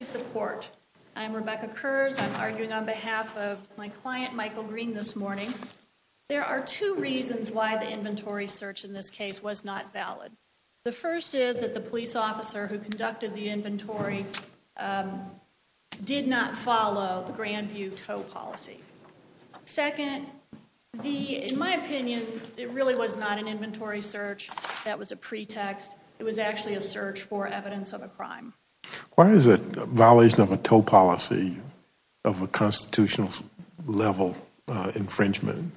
is the court. I'm Rebecca Kurz. I'm arguing on behalf of my client, Michael Green, this morning. There are two reasons why the inventory search in this case was not valid. The first is that the police officer who conducted the inventory did not follow the Grandview tow policy. Second, in my opinion, it really was not an inventory search. That was a pretext. It was actually a search for evidence of a crime. Why is it a violation of a tow policy of a constitutional level infringement?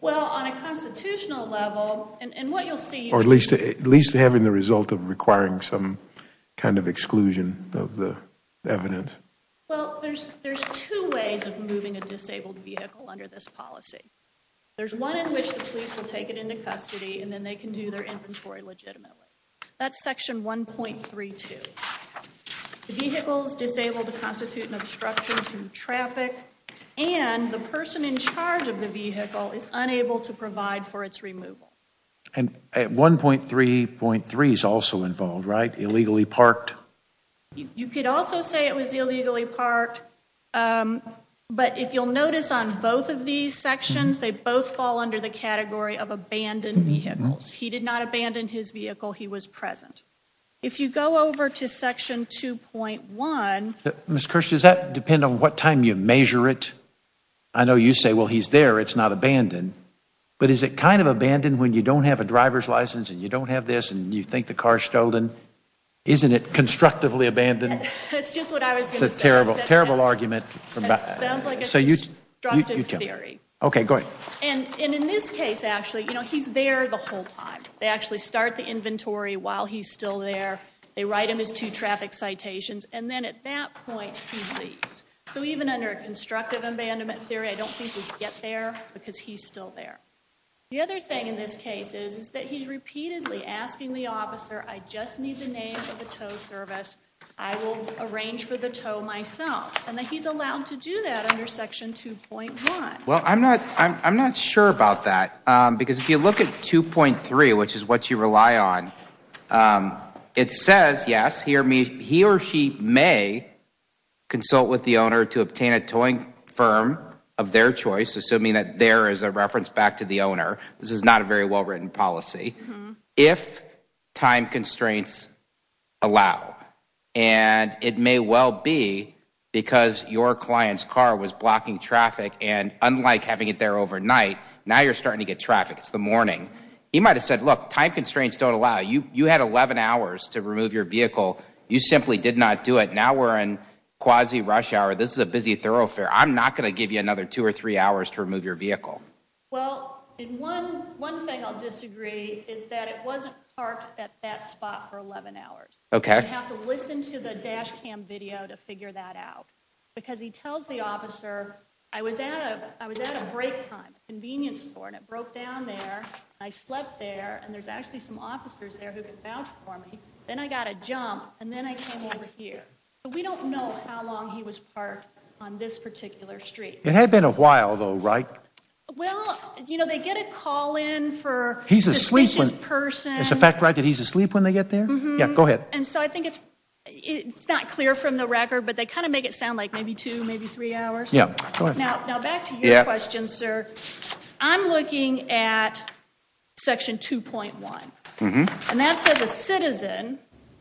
Well, on a constitutional level, and what you'll see... Or at least having the result of requiring some kind of exclusion of the evidence. Well, there's two ways of moving a disabled vehicle under this policy. There's one in which the police will take it into custody and then they can do their The vehicle is disabled to constitute an obstruction to traffic and the person in charge of the vehicle is unable to provide for its removal. And at 1.3.3 is also involved, right? Illegally parked. You could also say it was illegally parked, but if you'll notice on both of these sections, they both fall under the category of abandoned vehicles. He did not abandon his vehicle. He was present. If you go over to section 2.1... Ms. Kirsch, does that depend on what time you measure it? I know you say, well, he's there. It's not abandoned. But is it kind of abandoned when you don't have a driver's license and you don't have this and you think the car is stolen? Isn't it constructively abandoned? It's just what I was going to say. It's a terrible, terrible argument. It sounds like a constructed theory. Okay, go ahead. And in this case, actually, you know, he's there the whole time. They actually start the inventory while he's still there. They write him his two traffic citations. And then at that point, he leaves. So even under a constructive abandonment theory, I don't think he'd get there because he's still there. The other thing in this case is that he's repeatedly asking the officer, I just need the name of the tow service. I will arrange for the tow myself. And he's allowed to do that under section 2.1. Well, I'm not sure about that. Because if you look at 2.3, which is what you rely on, it says, yes, he or she may consult with the owner to obtain a towing firm of their choice, assuming that there is a reference back to the owner. This is not a very well written policy. If time constraints allow, and it may well be because your client's car was blocking traffic and unlike having it there overnight, now you're starting to get traffic. It's the morning. He might have said, look, time constraints don't allow you. You had 11 hours to remove your vehicle. You simply did not do it. Now we're in quasi rush hour. This is a busy thoroughfare. I'm not going to give you another two or three hours to remove your vehicle. Well, one thing I'll disagree is that it wasn't parked at that spot for 11 hours. OK. You have to listen to the dash cam video to figure that out. Because he tells the and there's actually some officers there who can vouch for me. Then I got a jump and then I came over here. But we don't know how long he was parked on this particular street. It had been a while, though, right? Well, you know, they get a call in for a suspicious person. It's a fact, right, that he's asleep when they get there? Yeah, go ahead. And so I think it's not clear from the record, but they kind of make it sound like maybe two, maybe three hours. Yeah, go ahead. Now, back to your question, sir. I'm looking at section 2.1, and that says a citizen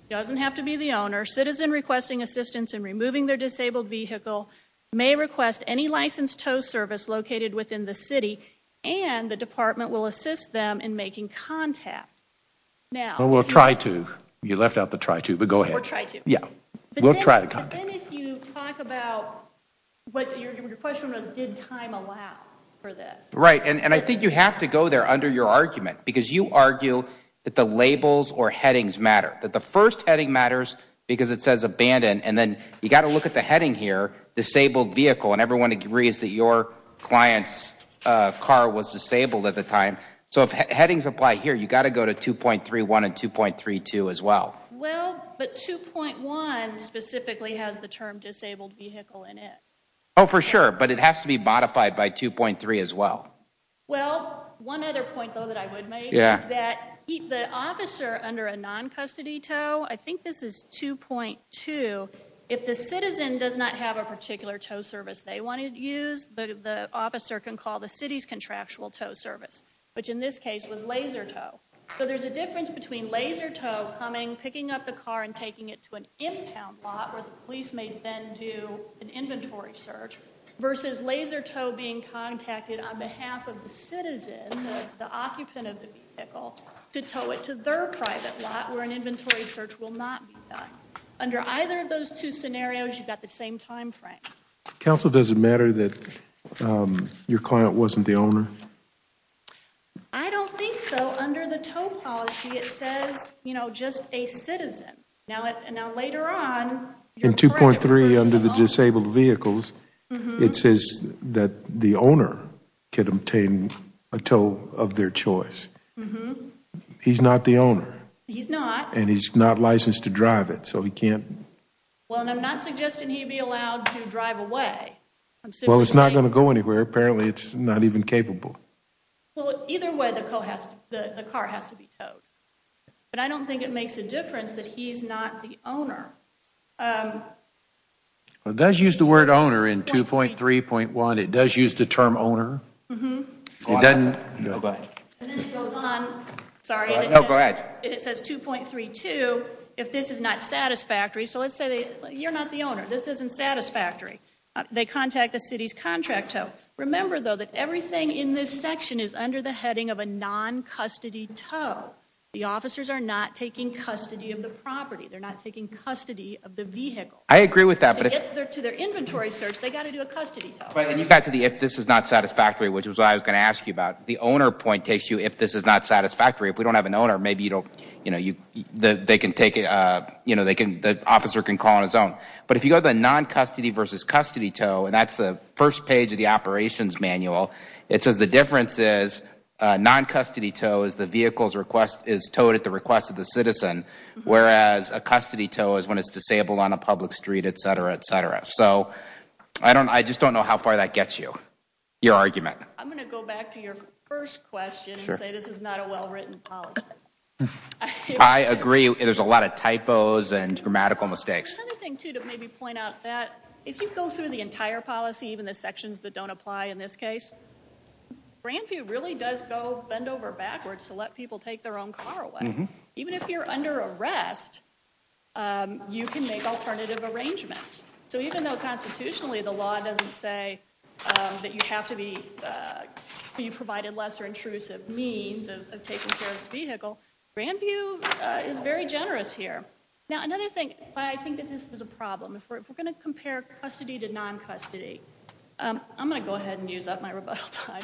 doesn't have to be the owner. Citizen requesting assistance in removing their disabled vehicle may request any licensed tow service located within the city, and the department will assist them in making contact. Well, we'll try to. You left out the try to, but go ahead. We'll try to. Yeah, we'll try to contact them. If you talk about what your question was, did time allow for this? Right, and I think you have to go there under your argument, because you argue that the labels or headings matter, that the first heading matters because it says abandoned, and then you've got to look at the heading here, disabled vehicle, and everyone agrees that your client's car was disabled at the time. So if headings apply here, you've got to go to 2.31 and 2.32 as well. Well, but 2.1 specifically has the term disabled vehicle in it. Oh, for sure, but it has to be modified by 2.3 as well. Well, one other point, though, that I would make is that the officer under a non-custody tow, I think this is 2.2, if the citizen does not have a particular tow service they want to use, the officer can call the city's contractual tow service, which in this case was laser tow. So there's a difference between laser tow coming, picking up the car, and taking it to an impound lot, where the police may then do an inventory search, versus laser tow being contacted on behalf of the citizen, the occupant of the vehicle, to tow it to their private lot, where an inventory search will not be done. Under either of those two scenarios, you've got the same time frame. Counsel, does it matter that your client wasn't the owner? I don't think so. Under the tow policy, it says, you know, just a citizen. Now, later on, your client was the owner. In 2.3, under the disabled vehicles, it says that the owner could obtain a tow of their choice. He's not the owner. He's not. And he's not licensed to drive it, so he can't. Well, and I'm not suggesting he be allowed to drive away. Well, it's not going to go anywhere. Apparently, it's not even capable. Well, either way, the car has to be towed. But I don't think it makes a difference that he's not the owner. Well, it does use the word owner in 2.3.1. It does use the term owner. It doesn't go back. And then it goes on, sorry, and it says 2.32, if this is not satisfactory. So let's say you're not the owner. This isn't satisfactory. They contact the city's contract tow. Remember, though, that everything in this section is under the heading of a non-custody tow. The officers are not taking custody of the property. They're not taking custody of the vehicle. I agree with that. But to get to their inventory search, they got to do a custody tow. And you got to the if this is not satisfactory, which is what I was going to ask you about. The owner point takes you if this is not satisfactory. If we don't have an owner, maybe you don't, you know, they can take it, you know, they can, the officer can call on his own. But if you go to the non-custody versus custody tow, and that's the page of the operations manual, it says the difference is non-custody tow is the vehicle's request is towed at the request of the citizen, whereas a custody tow is when it's disabled on a public street, et cetera, et cetera. So I don't, I just don't know how far that gets you, your argument. I'm going to go back to your first question and say this is not a well-written policy. I agree. There's a lot of typos and grammatical mistakes. Another thing, too, to maybe point out that if you go through the entire policy, even the sections that don't apply in this case, Grandview really does go bend over backwards to let people take their own car away. Even if you're under arrest, you can make alternative arrangements. So even though constitutionally the law doesn't say that you have to be, you provided lesser intrusive means of taking care of the vehicle, Grandview is very generous here. Now, another thing, I think that this is a problem. If we're going to compare custody to non-custody, I'm going to go ahead and use up my rebuttal time.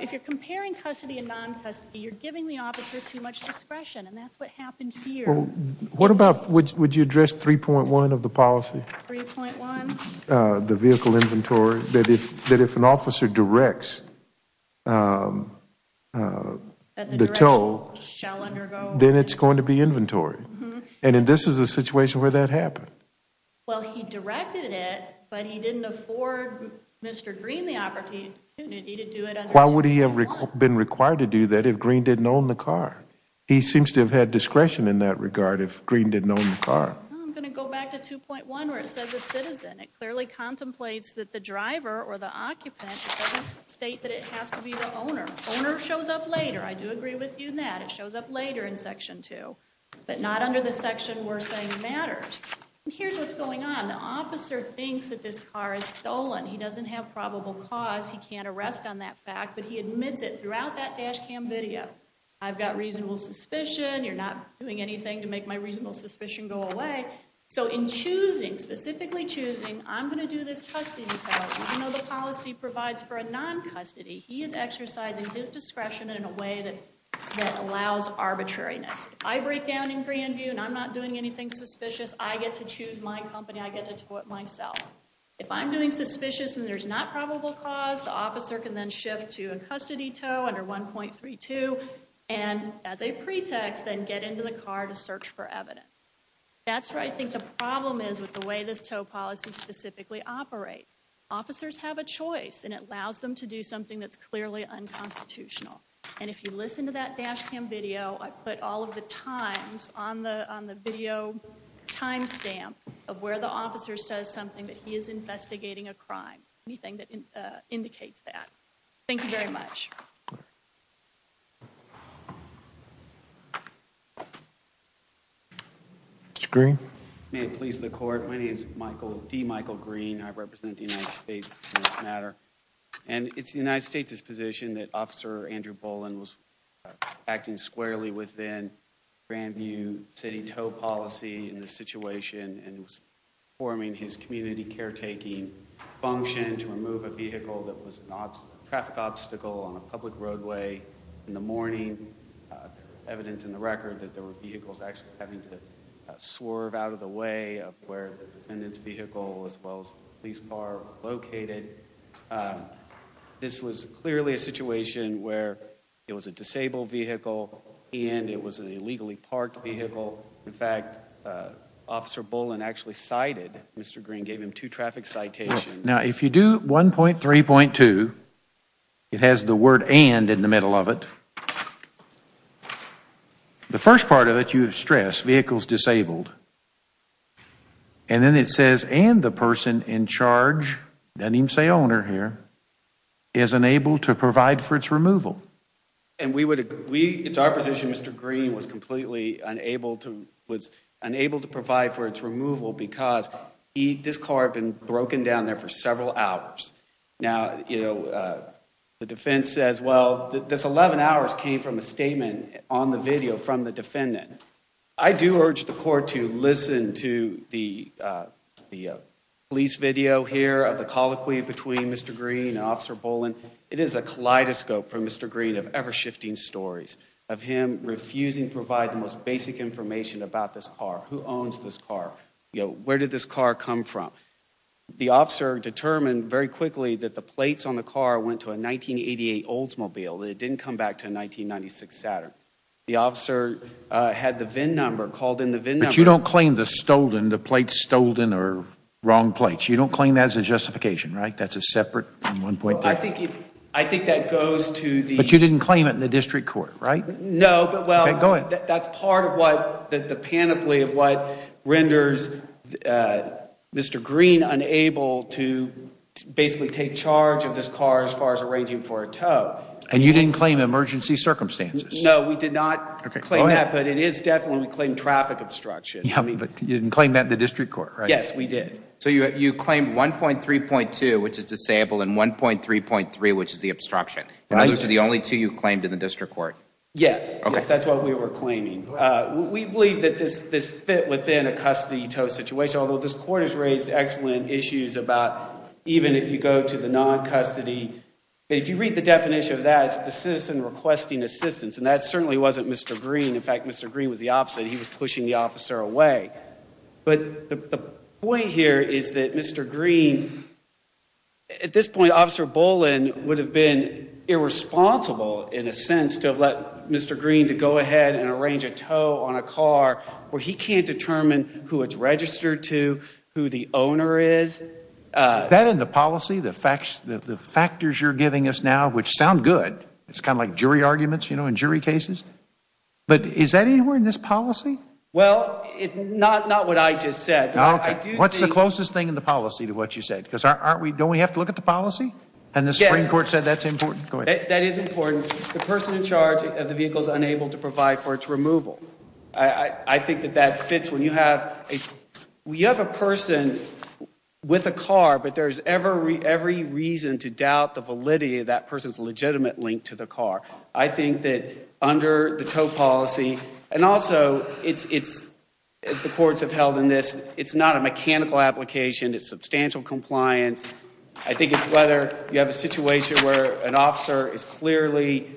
If you're comparing custody and non-custody, you're giving the officer too much discretion, and that's what happened here. What about, would you address 3.1 of the policy? 3.1. The vehicle inventory, that if an officer directs the tow, then it's going to be inventory. And this is a situation where that happened. Well, he directed it, but he didn't afford Mr. Green the opportunity to do it under 2.1. Why would he have been required to do that if Green didn't own the car? He seems to have had discretion in that regard if Green didn't own the car. I'm going to go back to 2.1 where it says a citizen. It clearly contemplates that the driver or the occupant doesn't state that it has to be the owner. Owner shows up later. I do agree with you in that. It shows up later in Section 2, but not under the section we're saying matters. And here's what's going on. The officer thinks that this car is stolen. He doesn't have probable cause. He can't arrest on that fact, but he admits it throughout that dash cam video. I've got reasonable suspicion. You're not doing anything to make my reasonable suspicion go away. So in choosing, specifically choosing, I'm going to do this custody policy. Even though the policy provides for a non-custody, he is exercising his discretion in a way that allows arbitrariness. If I break down in Grandview and I'm not doing anything suspicious, I get to choose my company. I get to do it myself. If I'm doing suspicious and there's not probable cause, the officer can then shift to a custody tow under 1.32. And as a pretext, then get into the car to search for evidence. That's where I think the problem is with the way this tow policy specifically operates. Officers have a choice and it allows them to do something that's clearly unconstitutional. And if you listen to that dash cam video, I put all of the times on the video timestamp of where the officer says something that he is investigating a crime, anything that indicates that. Thank you very much. Mr. Green. May it please the court. My name is D. Michael Green. I represent the United States in this matter. And it's the United States' position that Officer Andrew Bolin was acting squarely within Grandview City tow policy in this situation and was performing his community caretaking function to remove a vehicle that was a traffic obstacle on a public roadway in the morning. Evidence in the record that there were vehicles actually having to swerve out of the way of where the defendant's vehicle as well as the police car were located. This was clearly a situation where it was a disabled vehicle and it was an illegally parked vehicle. In fact, Officer Bolin actually cited Mr. Green, gave him two traffic citations. Now, if you do 1.3.2, it has the word and in the middle of it. The first part of it, you have stressed vehicles disabled. And then it says, and the person in charge, doesn't even say owner here, is unable to provide for its removal. And we would, we, it's our position Mr. Green was completely unable to, was unable to provide for its removal because this car had been broken down there for several hours. Now, you know, the defense says, well, this 11 hours came from a statement on the video from the defendant. I do urge the court to listen to the police video here of the colloquy between Mr. Green and Officer Bolin. It is a kaleidoscope for Mr. Green of ever shifting stories of him refusing to provide the most basic information about this car. Who owns this car? You know, where did this car come from? The officer determined very quickly that the plates on the car went to a 1988 Oldsmobile. It didn't come back to a 1996 Saturn. The officer had the VIN number, called in the VIN number. But you don't claim the stolen, the plates stolen or wrong plates. You don't claim that as a justification, right? That's a separate from 1.3. I think, I think that goes to the... But you didn't claim it in the district court, right? No, but well... Okay, go ahead. That's part of what, the panoply of what renders Mr. Green unable to basically take charge of this car as far as arranging for a tow. And you didn't claim emergency circumstances? No, we did not claim that, but it is definitely claimed traffic obstruction. Yeah, but you didn't claim that in the district court, right? Yes, we did. So you claimed 1.3.2, which is the sample and 1.3.3, which is the obstruction. Right. And those are the only two you claimed in the district court? Yes. Okay. That's what we were claiming. We believe that this fit within a custody tow situation, although this court has raised excellent issues about even if you go to the non-custody. If you read the definition of that, it's the citizen requesting assistance. And that certainly wasn't Mr. Green. In fact, Mr. Green was the opposite. He was pushing the officer away. But the point here is that Mr. Green... At this point, Officer Boland would have been irresponsible, in a sense, to have let Mr. Green to go ahead and arrange a tow on a car where he can't determine who it's registered to, who the owner is. That in the policy, the factors you're giving us now, which sound good. It's kind of like jury arguments, you know, in jury cases. But is that anywhere in this policy? Well, not what I just said. What's the closest thing in the policy to what you said? Because don't we have to look at the policy? And the Supreme Court said that's important. That is important. The person in charge of the vehicle is unable to provide for its removal. I think that that fits when you have... With a car, but there's every reason to doubt the validity of that person's legitimate link to the car. I think that under the tow policy... And also, as the courts have held in this, it's not a mechanical application. It's substantial compliance. I think it's whether you have a situation where an officer is clearly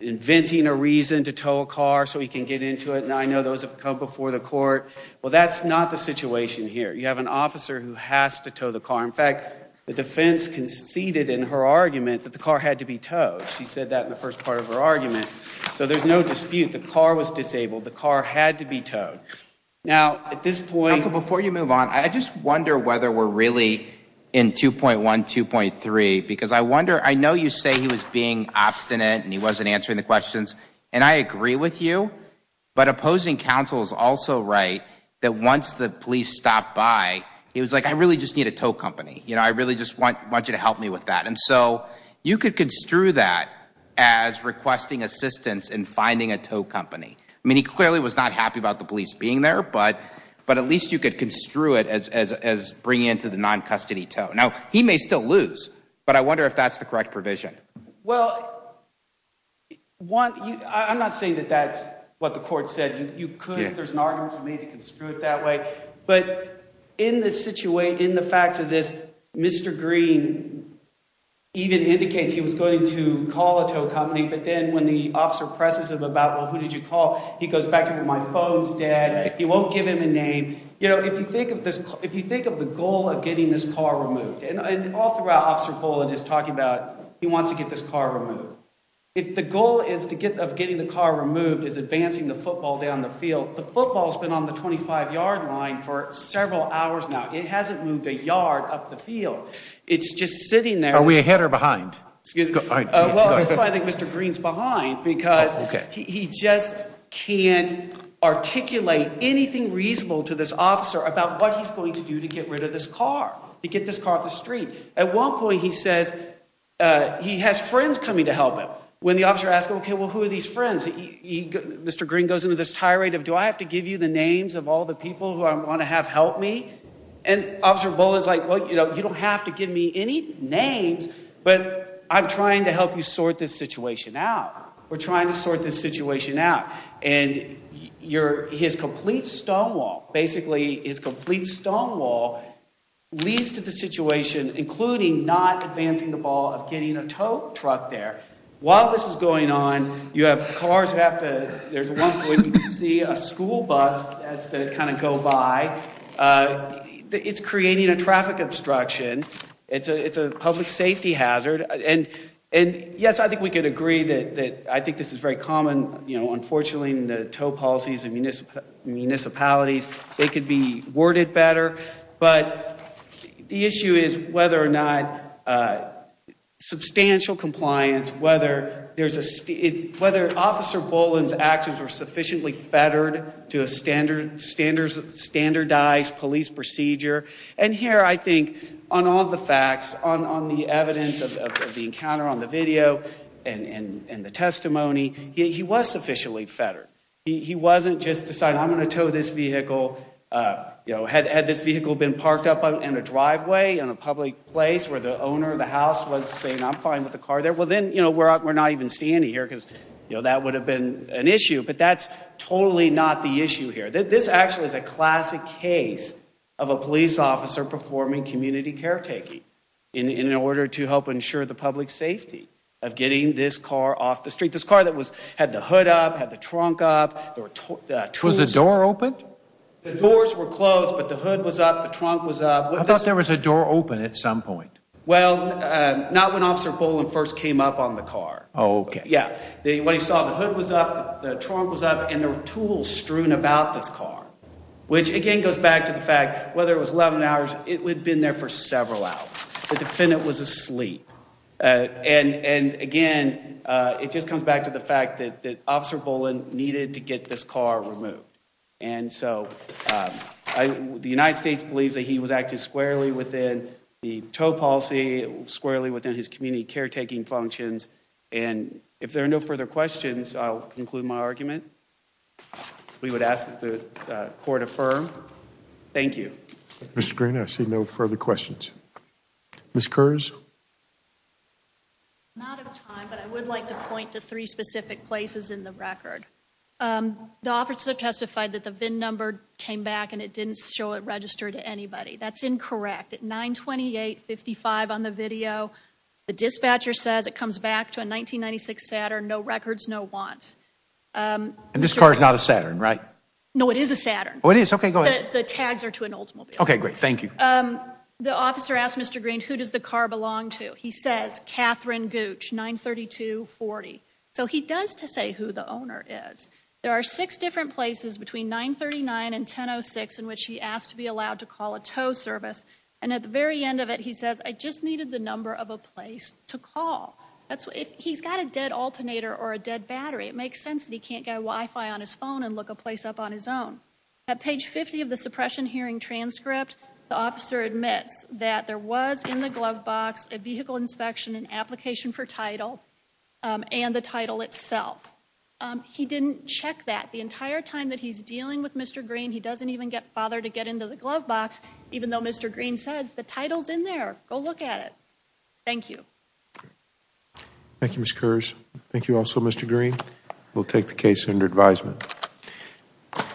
inventing a reason to tow a car so he can get into it. And I know those have come before the court. Well, that's not the situation here. You have an officer who has to tow the car. In fact, the defense conceded in her argument that the car had to be towed. She said that in the first part of her argument. So there's no dispute. The car was disabled. The car had to be towed. Now, at this point... Counsel, before you move on, I just wonder whether we're really in 2.1, 2.3. Because I wonder... I know you say he was being obstinate and he wasn't answering the questions. And I agree with you. But opposing counsel is also right that once the police stopped by, he was like, I really just need a tow company. You know, I really just want you to help me with that. And so you could construe that as requesting assistance in finding a tow company. I mean, he clearly was not happy about the police being there. But at least you could construe it as bringing into the non-custody tow. Now, he may still lose. But I wonder if that's the correct provision. Well, I'm not saying that that's what the court said. You could. There's an argument made to construe it that way. But in the facts of this, Mr. Green even indicates he was going to call a tow company. But then when the officer presses him about, well, who did you call? He goes back to, my phone's dead. He won't give him a name. You know, if you think of the goal of getting this car removed. And all throughout, Officer Bullen is talking about he wants to get this car removed. If the goal of getting the car removed is advancing the football down the field, the football's been on the 25-yard line for several hours now. It hasn't moved a yard up the field. It's just sitting there. Are we ahead or behind? Excuse me. Well, that's why I think Mr. Green's behind. Because he just can't articulate anything reasonable to this officer about what he's going to do to get rid of this car. To get this car off the street. At one point, he says he has friends coming to help him. When the officer asks him, okay, well, who are these friends? Mr. Green goes into this tirade of, do I have to give you the names of all the people who I want to have help me? And Officer Bullen's like, well, you know, you don't have to give me any names. But I'm trying to help you sort this situation out. We're trying to sort this situation out. And his complete stonewall, basically, his complete stonewall leads to the situation, including not advancing the ball of getting a tow truck there. While this is going on, you have cars who have to, there's one point where you can see a school bus as they kind of go by. It's creating a traffic obstruction. It's a public safety hazard. And yes, I think we can agree that I think this is very common. Unfortunately, the tow policies in municipalities, they could be worded better. But the issue is whether or not substantial compliance, whether Officer Bullen's actions were sufficiently fettered to a standardized police procedure. And here, I think, on all the facts, on the evidence of the encounter on the video and the testimony, he was sufficiently fettered. He wasn't just deciding, I'm going to tow this vehicle. Had this vehicle been parked up in a driveway in a public place where the owner of the house was saying, I'm fine with the car there, well, then, you know, we're not even standing here because, you know, that would have been an issue. But that's totally not the issue here. This actually is a classic case of a police officer performing community caretaking in order to help ensure the public safety of getting this car off the street. This car that had the hood up, had the trunk up. Was the door open? The doors were closed, but the hood was up. The trunk was up. I thought there was a door open at some point. Well, not when Officer Bullen first came up on the car. Oh, okay. Yeah, when he saw the hood was up, the trunk was up, and there were tools strewn about this car. Which, again, goes back to the fact, whether it was 11 hours, it would have been there for several hours. The defendant was asleep. And again, it just comes back to the fact that Officer Bullen needed to get this car removed. And so the United States believes that he was acting squarely within the tow policy, squarely within his community caretaking functions. And if there are no further questions, I'll conclude my argument. We would ask that the court affirm. Thank you. Mr. Green, I see no further questions. Ms. Kurz? Not of time, but I would like to point to three specific places in the record. The officer testified that the VIN number came back and it didn't show it registered to anybody. That's incorrect. At 92855 on the video, the dispatcher says it comes back to a 1996 Saturn. No records, no wants. And this car is not a Saturn, right? No, it is a Saturn. Oh, it is? Okay, go ahead. The tags are to an Oldsmobile. Okay, great. Thank you. The officer asked Mr. Green, who does the car belong to? He says, Catherine Gooch, 93240. So he does to say who the owner is. There are six different places between 939 and 1006 in which he asked to be allowed to call a tow service. And at the very end of it, he says, I just needed the number of a place to call. He's got a dead alternator or a dead battery. It makes sense that he can't get Wi-Fi on his phone and look a place up on his own. At page 50 of the suppression hearing transcript, the officer admits that there was in the glove box a vehicle inspection and application for title and the title itself. He didn't check that the entire time that he's dealing with Mr. Green. He doesn't even bother to get into the glove box, even though Mr. Green says the title's in there. Go look at it. Thank you. Thank you, Ms. Kurz. Thank you also, Mr. Green. We'll take the case under advisement.